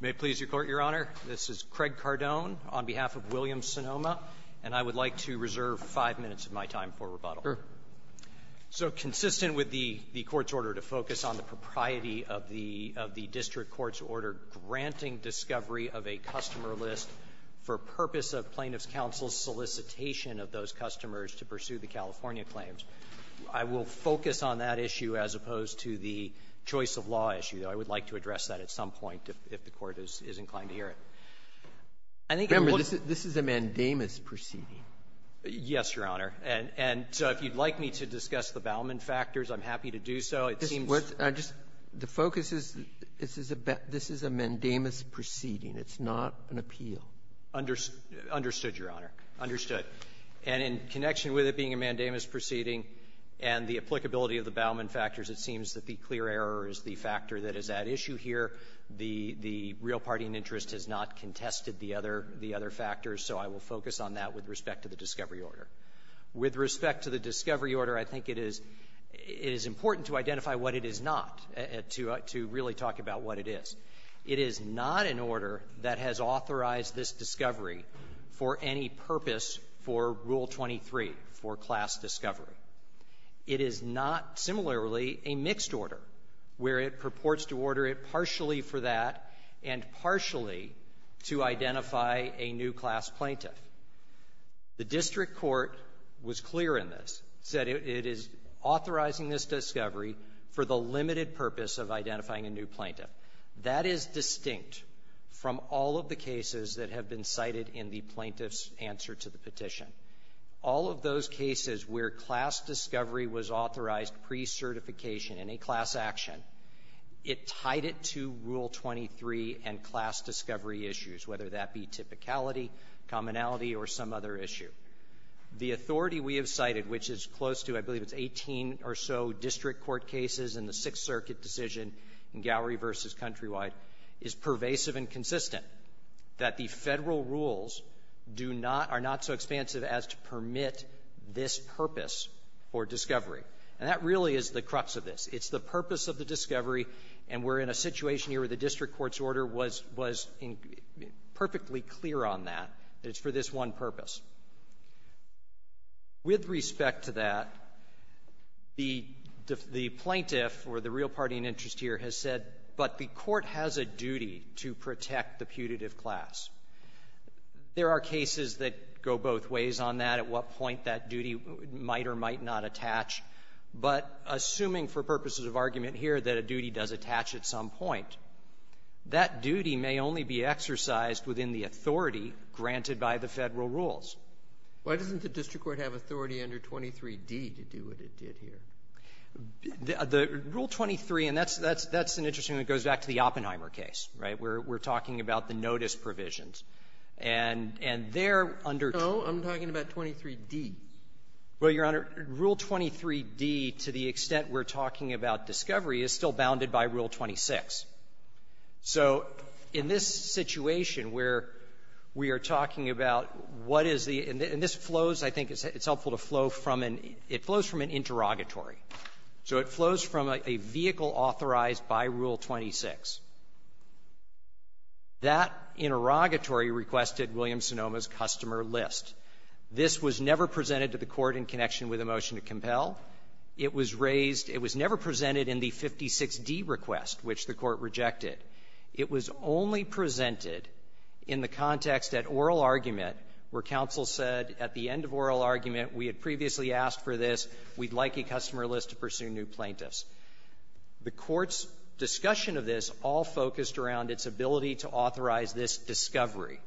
May it please the Court, Your Honor. This is Craig Cardone on behalf of Williams-Sonoma, and I would like to reserve five minutes of my time for rebuttal. Sure. So consistent with the Court's order to focus on the propriety of the District Court's order granting discovery of a customer list for purpose of Plaintiff's Counsel's solicitation of those customers to pursue the California claims, I will focus on that issue as opposed to the choice of law issue, though. I would like to address that at some point if the Court is inclined to hear it. I think what's the point of this is a mandamus proceeding. Yes, Your Honor. And so if you'd like me to discuss the Bauman factors, I'm happy to do so. It seems the focus is this is a mandamus proceeding. It's not an appeal. Understood, Your Honor. Understood. And in connection with it being a mandamus proceeding and the applicability of the Bauman factors, it seems that the clear error is the factor that is at issue here. The real party in interest has not contested the other factors, so I will focus on that with respect to the discovery order. With respect to the discovery order, I think it is important to identify what it is not, to really talk about what it is. It is not an order that has authorized this discovery for any purpose for Rule 23, for class discovery. It is not, similarly, a mixed order where it purports to order it partially for that and partially to identify a new class plaintiff. The district court was clear in this, said it is authorizing this discovery for the limited purpose of identifying a new plaintiff. That is distinct from all of the cases that have been cited in the plaintiff's answer to the petition. All of those cases where class discovery was authorized pre-certification in a class action, it tied it to Rule 23 and class discovery issues, whether that be typicality, commonality, or some other issue. The authority we have cited, which is close to, I believe it's 18 or so district court cases in the Sixth Circuit decision in Gowrie v. Countrywide, is pervasive and consistent that the Federal rules do not or are not so expansive as to permit this purpose for discovery. And that really is the crux of this. It's the purpose of the discovery, and we're in a situation here where the district court's order was perfectly clear on that, that it's for this one purpose. With respect to that, the plaintiff or the real party in interest here has said, but the court has a duty to protect the putative class. There are cases that go both ways on that, at what point that duty might or might not attach. But assuming for purposes of argument here that a duty does attach at some point, that duty may only be exercised within the authority granted by the Federal rules. Why doesn't the district court have authority under 23d to do what it did here? The rule 23, and that's an interesting one that goes back to the Oppenheimer case, right? We're talking about the notice provisions. And they're under 23d. And so I'm talking about 23d. Well, Your Honor, rule 23d, to the extent we're talking about discovery, is still bounded by rule 26. So in this situation where we are talking about what is the – and this flows, I think it's helpful to flow from an – it flows from an interrogatory. So it flows from a vehicle authorized by Rule 26. That interrogatory requested William Sonoma's customer list. This was never presented to the court in connection with a motion to compel. It was raised – it was never presented in the 56d request, which the court rejected. It was only presented in the context at oral argument where counsel said at the end of oral argument, we had previously asked for this. We'd like a customer list to pursue new plaintiffs. The court's discussion of this all focused around its ability to authorize this discovery.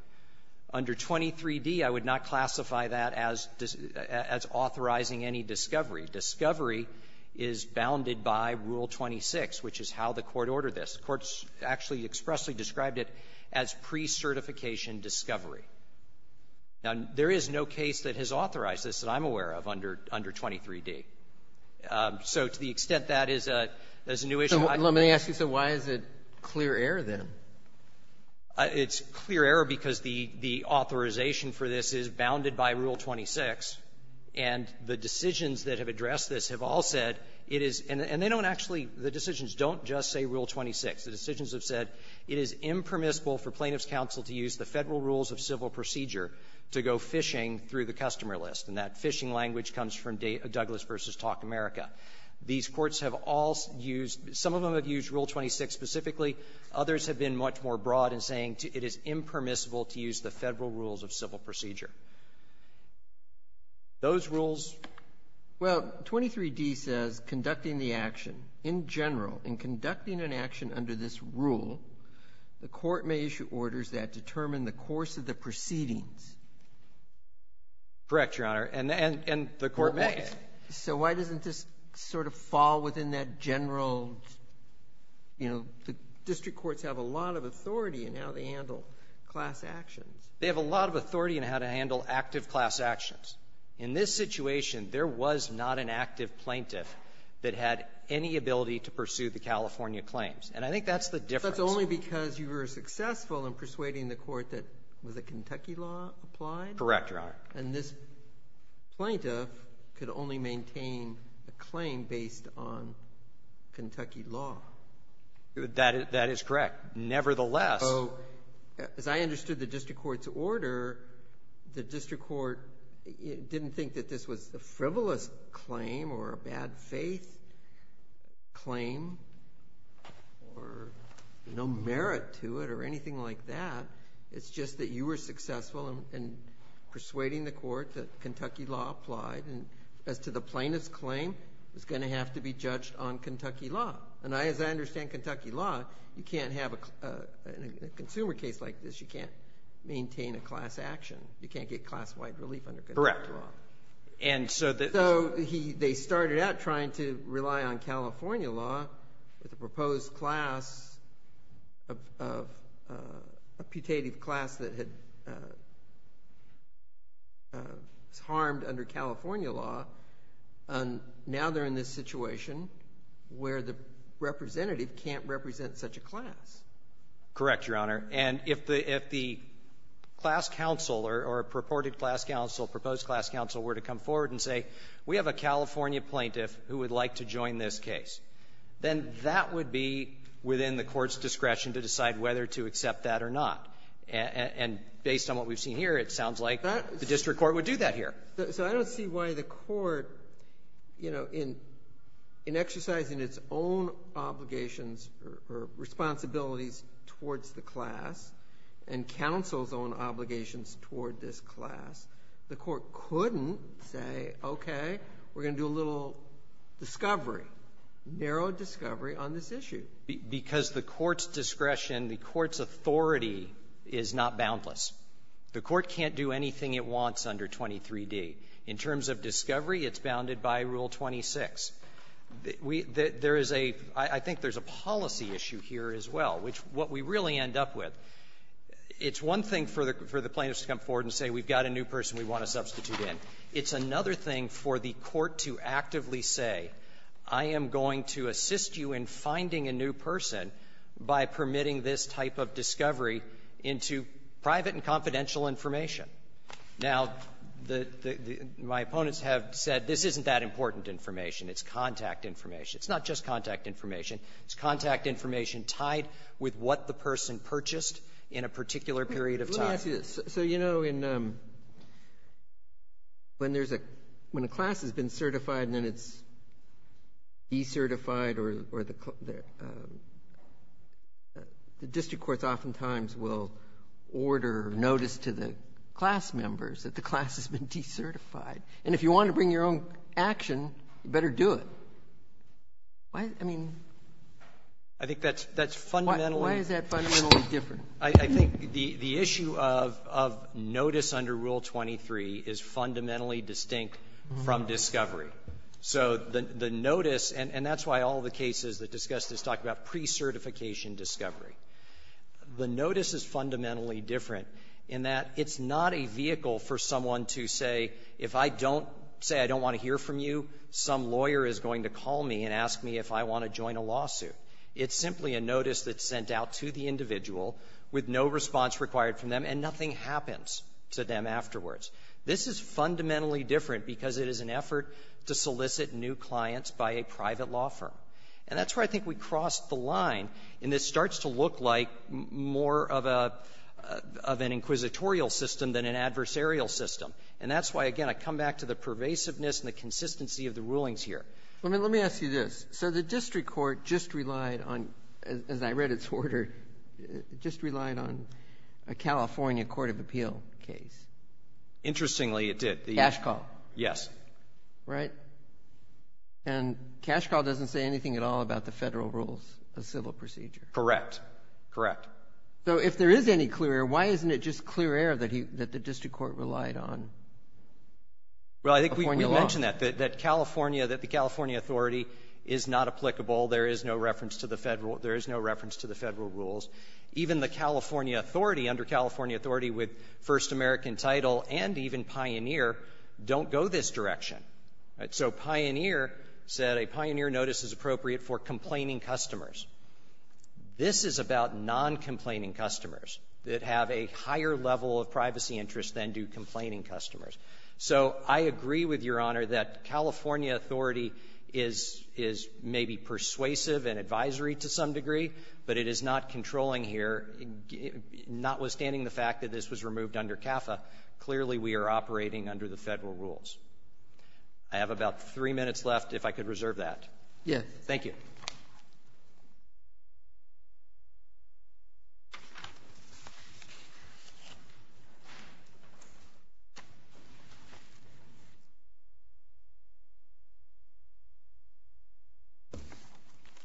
Under 23d, I would not classify that as – as authorizing any discovery. Discovery is bounded by Rule 26, which is how the court ordered this. The court actually expressly described it as precertification discovery. Now, there is no case that has authorized this that I'm aware of under – under 23d. So to the extent that is a – that is a new issue, I don't think we can do that. Robertson, let me ask you, so why is it clear error, then? It's clear error because the – the authorization for this is bounded by Rule 26, and the decisions that have addressed this have all said it is – and they don't actually – the decisions don't just say Rule 26. The decisions have said it is impermissible for Plaintiffs' Counsel to use the Federal Rules of Civil Procedure to go phishing through the customer list. And that phishing language comes from Douglas v. Talk America. These courts have all used – some of them have used Rule 26 specifically. Others have been much more broad in saying it is impermissible to use the Federal Rules of Civil Procedure. Those rules – Well, 23d says conducting the action. In general, in conducting an action under this rule, the court may issue orders that determine the course of the proceedings. Correct, Your Honor. And the court may. So why doesn't this sort of fall within that general, you know, the district courts have a lot of authority in how they handle class actions. They have a lot of authority in how to handle active class actions. In this situation, there was not an active plaintiff that had any ability to pursue the California claims. And I think that's the difference. That's only because you were successful in persuading the court that – was it Kentucky law applied? Correct, Your Honor. And this plaintiff could only maintain a claim based on Kentucky law. That is correct. Nevertheless – So, as I understood the district court's order, the district court didn't think that this was a frivolous claim or a bad faith claim or no merit to it or anything like that. It's just that you were successful in persuading the court that Kentucky law applied. And as to the plaintiff's claim, it's going to have to be judged on Kentucky law. And as I understand Kentucky law, you can't have a – in a consumer case like this, you can't maintain a class action. You can't get class-wide relief under Kentucky law. And so the – So he – they started out trying to rely on California law with a proposed class of a putative class that had – was harmed under California law. And now they're in this situation where the representative can't represent such a class. Correct, Your Honor. And if the – if the class counsel or purported class counsel, proposed class counsel were to come forward and say, we have a California plaintiff who would like to join this case, then that would be within the court's discretion to decide whether to accept that or not. And based on what we've seen here, it sounds like the district court would do that here. So I don't see why the court, you know, in exercising its own obligations or responsibilities towards the class and counsel's own obligations toward this class, the court couldn't say, okay, we're going to do a little discovery, narrow discovery on this issue. Because the court's discretion, the court's authority is not boundless. The court can't do anything it wants under 23d. In terms of discovery, it's bounded by Rule 26. We – there is a – I think there's a policy issue here as well, which what we really end up with, it's one thing for the plaintiffs to come forward and say, we've got a new person we want to substitute in. It's another thing for the court to actively say, I am going to assist you in finding a new person by permitting this type of discovery into private and confidential information. Now, the – my opponents have said, this isn't that important information. It's contact information. It's not just contact information. It's contact information tied with what the person purchased in a particular period of time. Breyer. So, you know, in – when there's a – when a class has been certified and then it's decertified or the – the district courts oftentimes will order notice to the class members that the class has been decertified. And if you want to bring your own action, you better do it. Why? I mean, why is that fundamentally I think that's fundamentally – I think the issue of notice under Rule 23 is fundamentally distinct from discovery. So the notice – and that's why all the cases that discuss this talk about pre-certification discovery. The notice is fundamentally different in that it's not a vehicle for someone to say, if I don't say I don't want to hear from you, some lawyer is going to call me and ask me if I want to join a lawsuit. It's simply a notice that's sent out to the individual with no response required from them, and nothing happens to them afterwards. This is fundamentally different because it is an effort to solicit new clients by a private law firm. And that's where I think we crossed the line, and this starts to look like more of an inquisitorial system than an adversarial system. And that's why, again, I come back to the pervasiveness and the consistency of the rulings here. Let me ask you this. So the district court just relied on, as I read its order, just relied on a California court of appeal case. Interestingly, it did. Cash call. Yes. Right? And cash call doesn't say anything at all about the Federal rules of civil procedure. Correct. Correct. So if there is any clear error, why isn't it just clear error that he – that the district court relied on? Well, I think we've mentioned that, that California – that the California authority is not applicable. There is no reference to the Federal – there is no reference to the Federal rules. Even the California authority, under California authority, with First American title and even Pioneer, don't go this direction. So Pioneer said a Pioneer notice is appropriate for complaining customers. This is about non-complaining customers that have a higher level of privacy interest than do complaining customers. So I agree with Your Honor that California authority is – is maybe persuasive and advisory to some degree, but it is not controlling here, notwithstanding the fact that this was removed under CAFA. Clearly, we are operating under the Federal rules. I have about three minutes left, if I could reserve that. Yes. Thank you.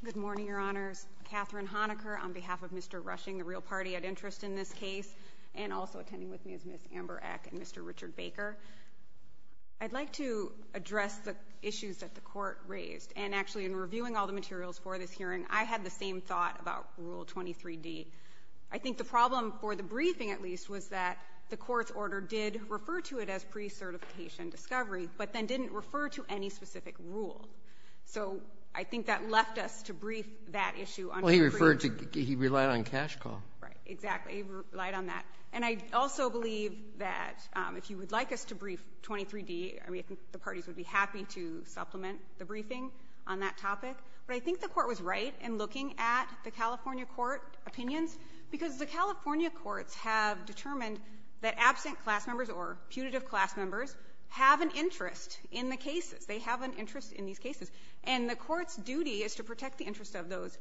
Good morning, Your Honors. Katherine Honaker on behalf of Mr. Rushing, the real party at interest in this case, and also attending with me is Ms. Amber Eck and Mr. Richard Baker. I'd like to address the issues that the court raised, and actually in reviewing all the materials for this hearing, I had the same thought about Rule 23d. I think the problem for the briefing, at least, was that the court's order did refer to it as pre-certification discovery, but then didn't refer to any specific rule. So I think that left us to brief that issue under the briefing. Well, he referred to – he relied on cash call. Right. Exactly. He relied on that. And I also believe that if you would like us to brief 23d, I mean, I think the parties would be happy to supplement the briefing on that topic. But I think the court was right in looking at the California court opinions, because the California courts have determined that absent class members or putative class members have an interest in the cases. They have an interest in these cases. And the court's duty is to protect the interest of those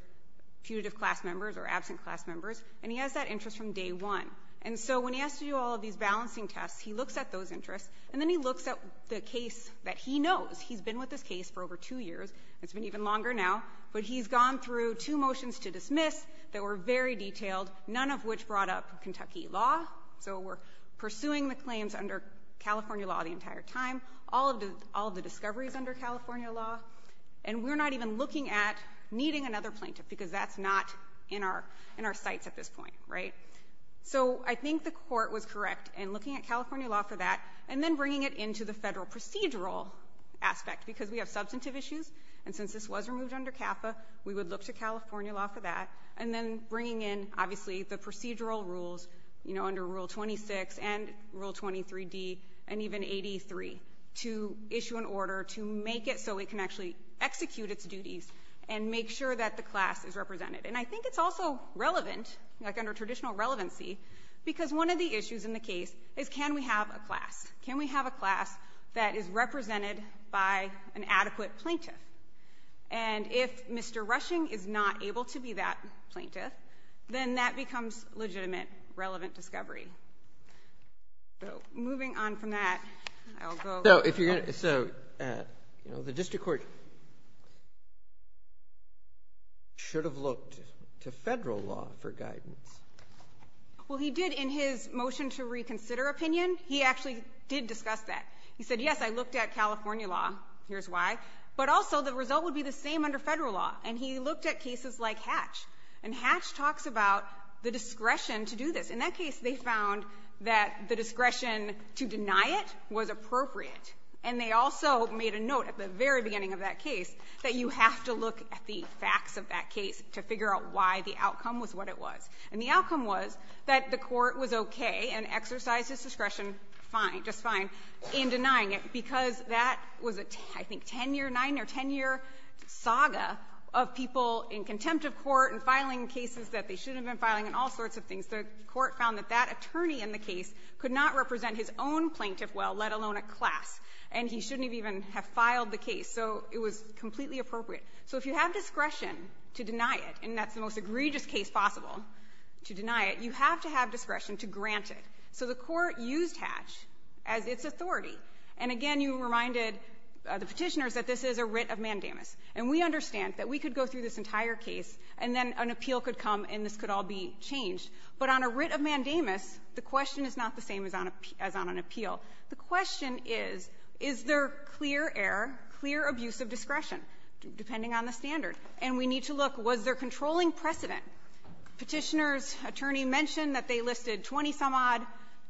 putative class members or absent class members, and he has that interest from day one. And so when he has to do all of these balancing tests, he looks at those interests, and then he looks at the case that he knows. He's been with this case for over two years. It's been even longer now. But he's gone through two motions to dismiss that were very detailed, none of which brought up Kentucky law. So we're pursuing the claims under California law the entire time, all of the discoveries under California law. And we're not even looking at needing another plaintiff, because that's not in our sights at this point. Right. So I think the court was correct in looking at California law for that. And then bringing it into the federal procedural aspect, because we have substantive issues, and since this was removed under CAFA, we would look to California law for that. And then bringing in, obviously, the procedural rules under Rule 26 and Rule 23D, and even 83, to issue an order to make it so it can actually execute its duties and make sure that the class is represented. And I think it's also relevant, like under traditional relevancy, because one of the issues in the case is, can we have a class? Can we have a class that is represented by an adequate plaintiff? And if Mr. Rushing is not able to be that plaintiff, then that becomes legitimate, relevant discovery. So, moving on from that, I'll go- So, if you're going to, so, the district court should have looked to federal law for guidance. Well, he did in his motion to reconsider opinion, he actually did discuss that. He said, yes, I looked at California law, here's why. But also, the result would be the same under federal law. And he looked at cases like Hatch. And Hatch talks about the discretion to do this. In that case, they found that the discretion to deny it was appropriate. And they also made a note at the very beginning of that case that you have to look at the facts of that case to figure out why the outcome was what it was. And the outcome was that the court was okay and exercised its discretion fine, just fine, in denying it because that was a, I think, 10-year, 9- or 10-year saga of people in contempt of court and filing cases that they shouldn't have been filing and all sorts of things. The court found that that attorney in the case could not represent his own plaintiff well, let alone a class, and he shouldn't even have filed the case. So it was completely appropriate. So if you have discretion to deny it, and that's the most egregious case possible to deny it, you have to have discretion to grant it. So the court used Hatch as its authority. And again, you reminded the Petitioners that this is a writ of mandamus. And we understand that we could go through this entire case, and then an appeal could come, and this could all be changed. But on a writ of mandamus, the question is not the same as on an appeal. The question is, is there clear error, clear abuse of discretion? Depending on the standard. And we need to look, was there controlling precedent? Petitioners' attorney mentioned that they listed 20-some-odd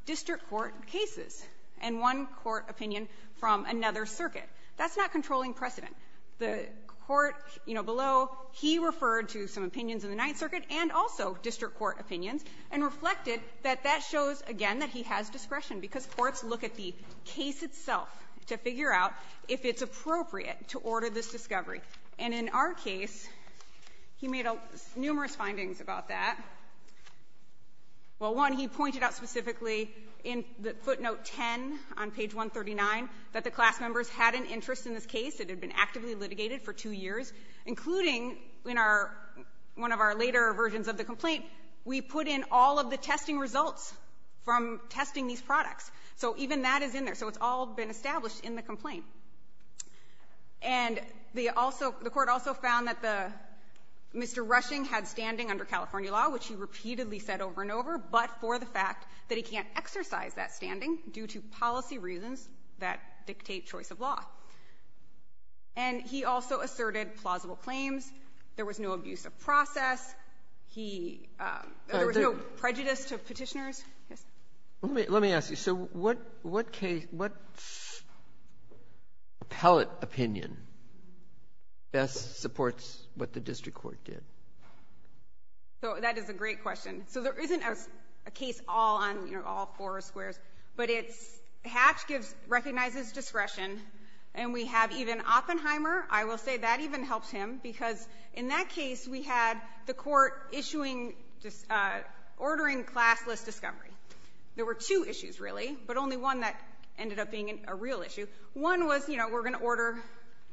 district court cases and one court opinion from another circuit. That's not controlling precedent. The court, you know, below, he referred to some opinions in the Ninth Circuit and also district court opinions, and reflected that that shows, again, that he has discretion, because courts look at the case itself to figure out if it's appropriate to order this discovery. And in our case, he made numerous findings about that. Well, one, he pointed out specifically in footnote 10 on page 139 that the class members had an interest in this case. It had been actively litigated for two years, including in our one of our later versions of the complaint, we put in all of the testing results from testing these products. So even that is in there. So it's all been established in the complaint. And the also the court also found that the Mr. Rushing had standing under California law, which he repeatedly said over and over, but for the fact that he can't exercise that standing due to policy reasons that dictate choice of law. And he also asserted plausible claims. There was no abuse of process. He no prejudice to Petitioners. Let me ask you, so what case, what appellate opinion best supports what the district court did? So that is a great question. So there isn't a case all on, you know, all four squares. But it's Hatch gives, recognizes discretion. And we have even Oppenheimer. I will say that even helps him, because in that case, we had the court issuing ordering class list discovery. There were two issues, really, but only one that ended up being a real issue. One was, you know, we're going to order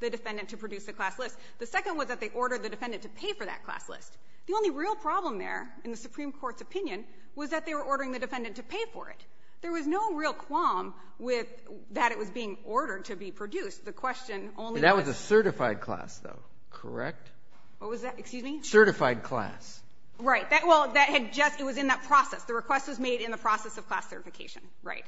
the defendant to produce a class list. The second was that they ordered the defendant to pay for that class list. The only real problem there, in the Supreme Court's opinion, was that they were ordering the defendant to pay for it. There was no real qualm with that it was being ordered to be produced. The question only was. And that was a certified class, though, correct? What was that? Excuse me? Certified class. Right. Well, that had just, it was in that process. The request was made in the process of class certification. Right.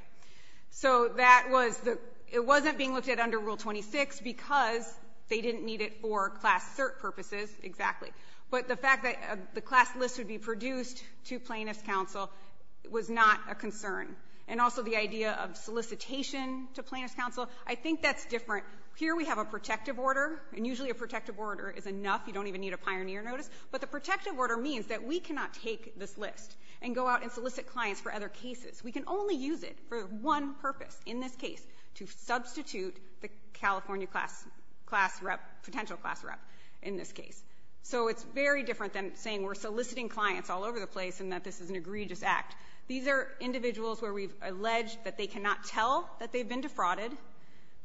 So that was the, it wasn't being looked at under Rule 26 because they didn't need it for class cert purposes, exactly. But the fact that the class list would be produced to plaintiff's counsel was not a concern. And also the idea of solicitation to plaintiff's counsel, I think that's different. Here we have a protective order, and usually a protective order is enough. You don't even need a pioneer notice. But the protective order means that we cannot take this list and go out and solicit clients for other cases. We can only use it for one purpose, in this case, to substitute the California class rep, potential class rep, in this case. So it's very different than saying we're soliciting clients all over the place and that this is an egregious act. These are individuals where we've alleged that they cannot tell that they've been defrauded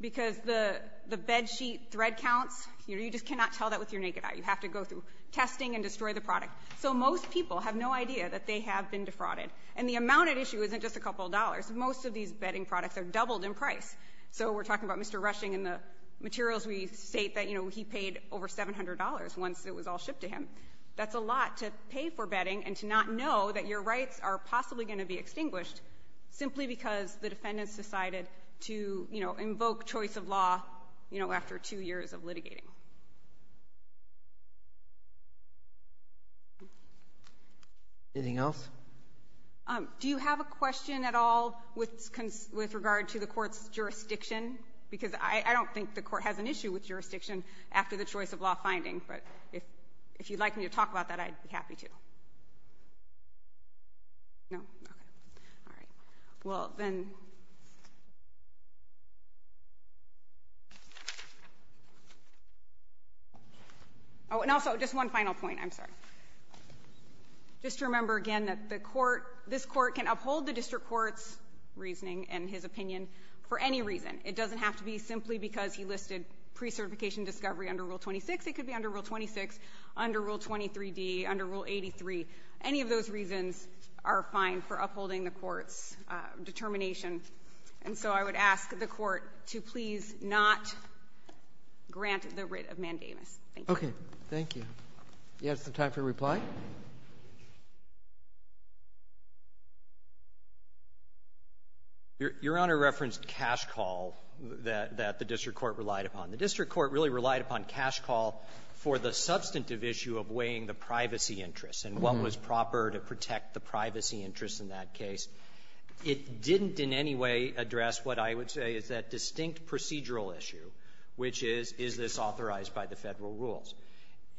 because the bed sheet thread counts, you know, you just cannot tell that with your naked eye. You have to go through testing and destroy the product. So most people have no idea that they have been defrauded. And the amount at issue isn't just a couple of dollars. Most of these bedding products are doubled in price. So we're talking about Mr. Rushing and the materials we state that, you know, he paid over $700 once it was all shipped to him. That's a lot to pay for bedding and to not know that your rights are possibly going to be extinguished simply because the defendants decided to, you know, invoke choice of law, you know, after two years of litigating. Anything else? Do you have a question at all with regard to the court's jurisdiction? Because I don't think the court has an issue with jurisdiction after the choice of law finding. But if you'd like me to talk about that, I'd be happy to. No? Okay. All right. Well, then. Oh, and also, just one final point. I'm sorry. Just to remember, again, that the court, this court can uphold the district court's reasoning and his opinion for any reason. It doesn't have to be simply because he listed pre-certification discovery under Rule 26. It could be under Rule 26, under Rule 23d, under Rule 83. Any of those reasons are fine for upholding the court's determination. And so I would ask the court to please not grant the writ of mandamus. Thank you. Okay. Thank you. Do you have some time for reply? Your Honor referenced cash call that the district court relied upon. The district court really relied upon cash call for the substantive issue of weighing the privacy interests. And what was proper to protect the privacy interests in that case? It didn't in any way address what I would say is that distinct procedural issue, which is, is this authorized by the Federal rules?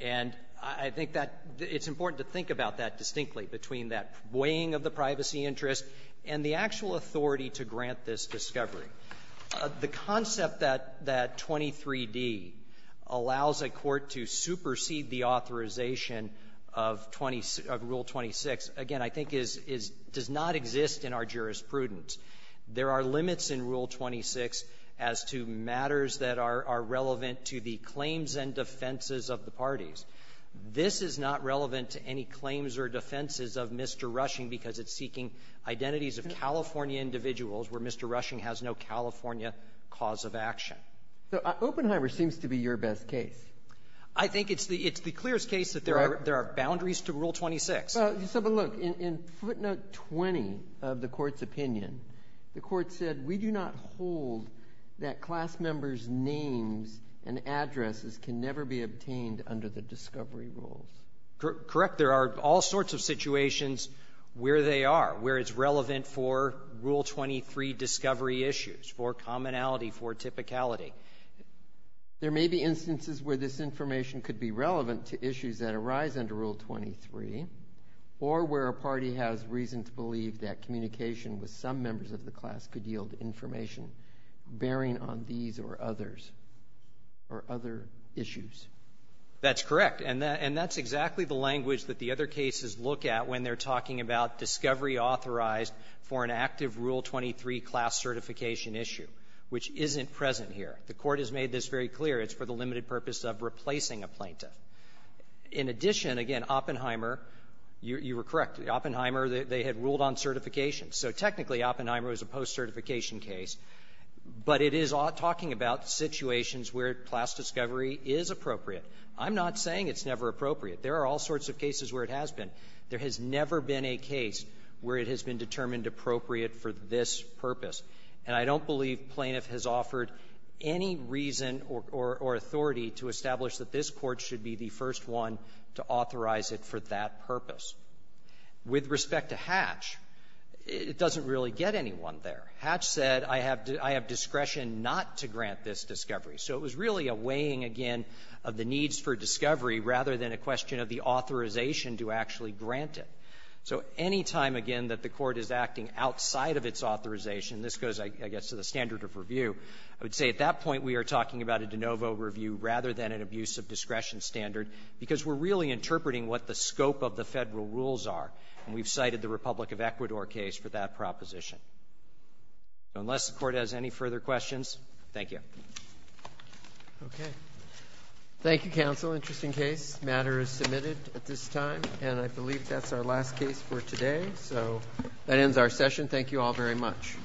And I think that it's important to think about that distinctly between that weighing of the privacy interest and the actual authority to grant this discovery. The concept that that 23d allows a court to supersede the authorization of 20 of Rule 26, again, I think is, is, does not exist in our jurisprudence. There are limits in Rule 26 as to matters that are relevant to the claims and defenses of the parties. This is not relevant to any claims or defenses of Mr. Rushing because it's seeking identities of California individuals where Mr. Rushing has no California cause of action. So Oppenheimer seems to be your best case. I think it's the, it's the clearest case that there are boundaries to Rule 26. But look, in footnote 20 of the Court's opinion, the Court said, we do not hold that class members' names and addresses can never be obtained under the discovery rules. Correct. There are all sorts of situations where they are, where it's relevant for Rule 23 discovery issues, for commonality, for typicality. There may be instances where this information could be relevant to issues that arise under Rule 23 or where a party has reason to believe that communication with some members of the class could yield information bearing on these or others or other issues. That's correct. And that, and that's exactly the language that the other cases look at when they're talking about discovery authorized for an active Rule 23 class certification issue, which isn't present here. The Court has made this very clear. It's for the limited purpose of replacing a plaintiff. In addition, again, Oppenheimer you were correct. Oppenheimer, they had ruled on certification. So technically, Oppenheimer was a post-certification case. But it is talking about situations where class discovery is appropriate. I'm not saying it's never appropriate. There are all sorts of cases where it has been. There has never been a case where it has been determined appropriate for this purpose. And I don't believe plaintiff has offered any reason or authority to establish that this Court should be the first one to authorize it for that purpose. With respect to Hatch, it doesn't really get anyone there. Hatch said, I have discretion not to grant this discovery. So it was really a weighing, again, of the needs for discovery rather than a question of the authorization to actually grant it. So any time, again, that the Court is acting outside of its authorization, this goes, I guess, to the standard of review, I would say at that point we are talking about a de novo review rather than an abuse of discretion standard because we're really interpreting what the scope of the Federal rules are. And we've cited the Republic of Ecuador case for that proposition. So unless the Court has any further questions, thank you. Roberts. Thank you, counsel. Interesting case. This matter is submitted at this time. And I believe that's our last case for today. So that ends our session. Thank you all very much.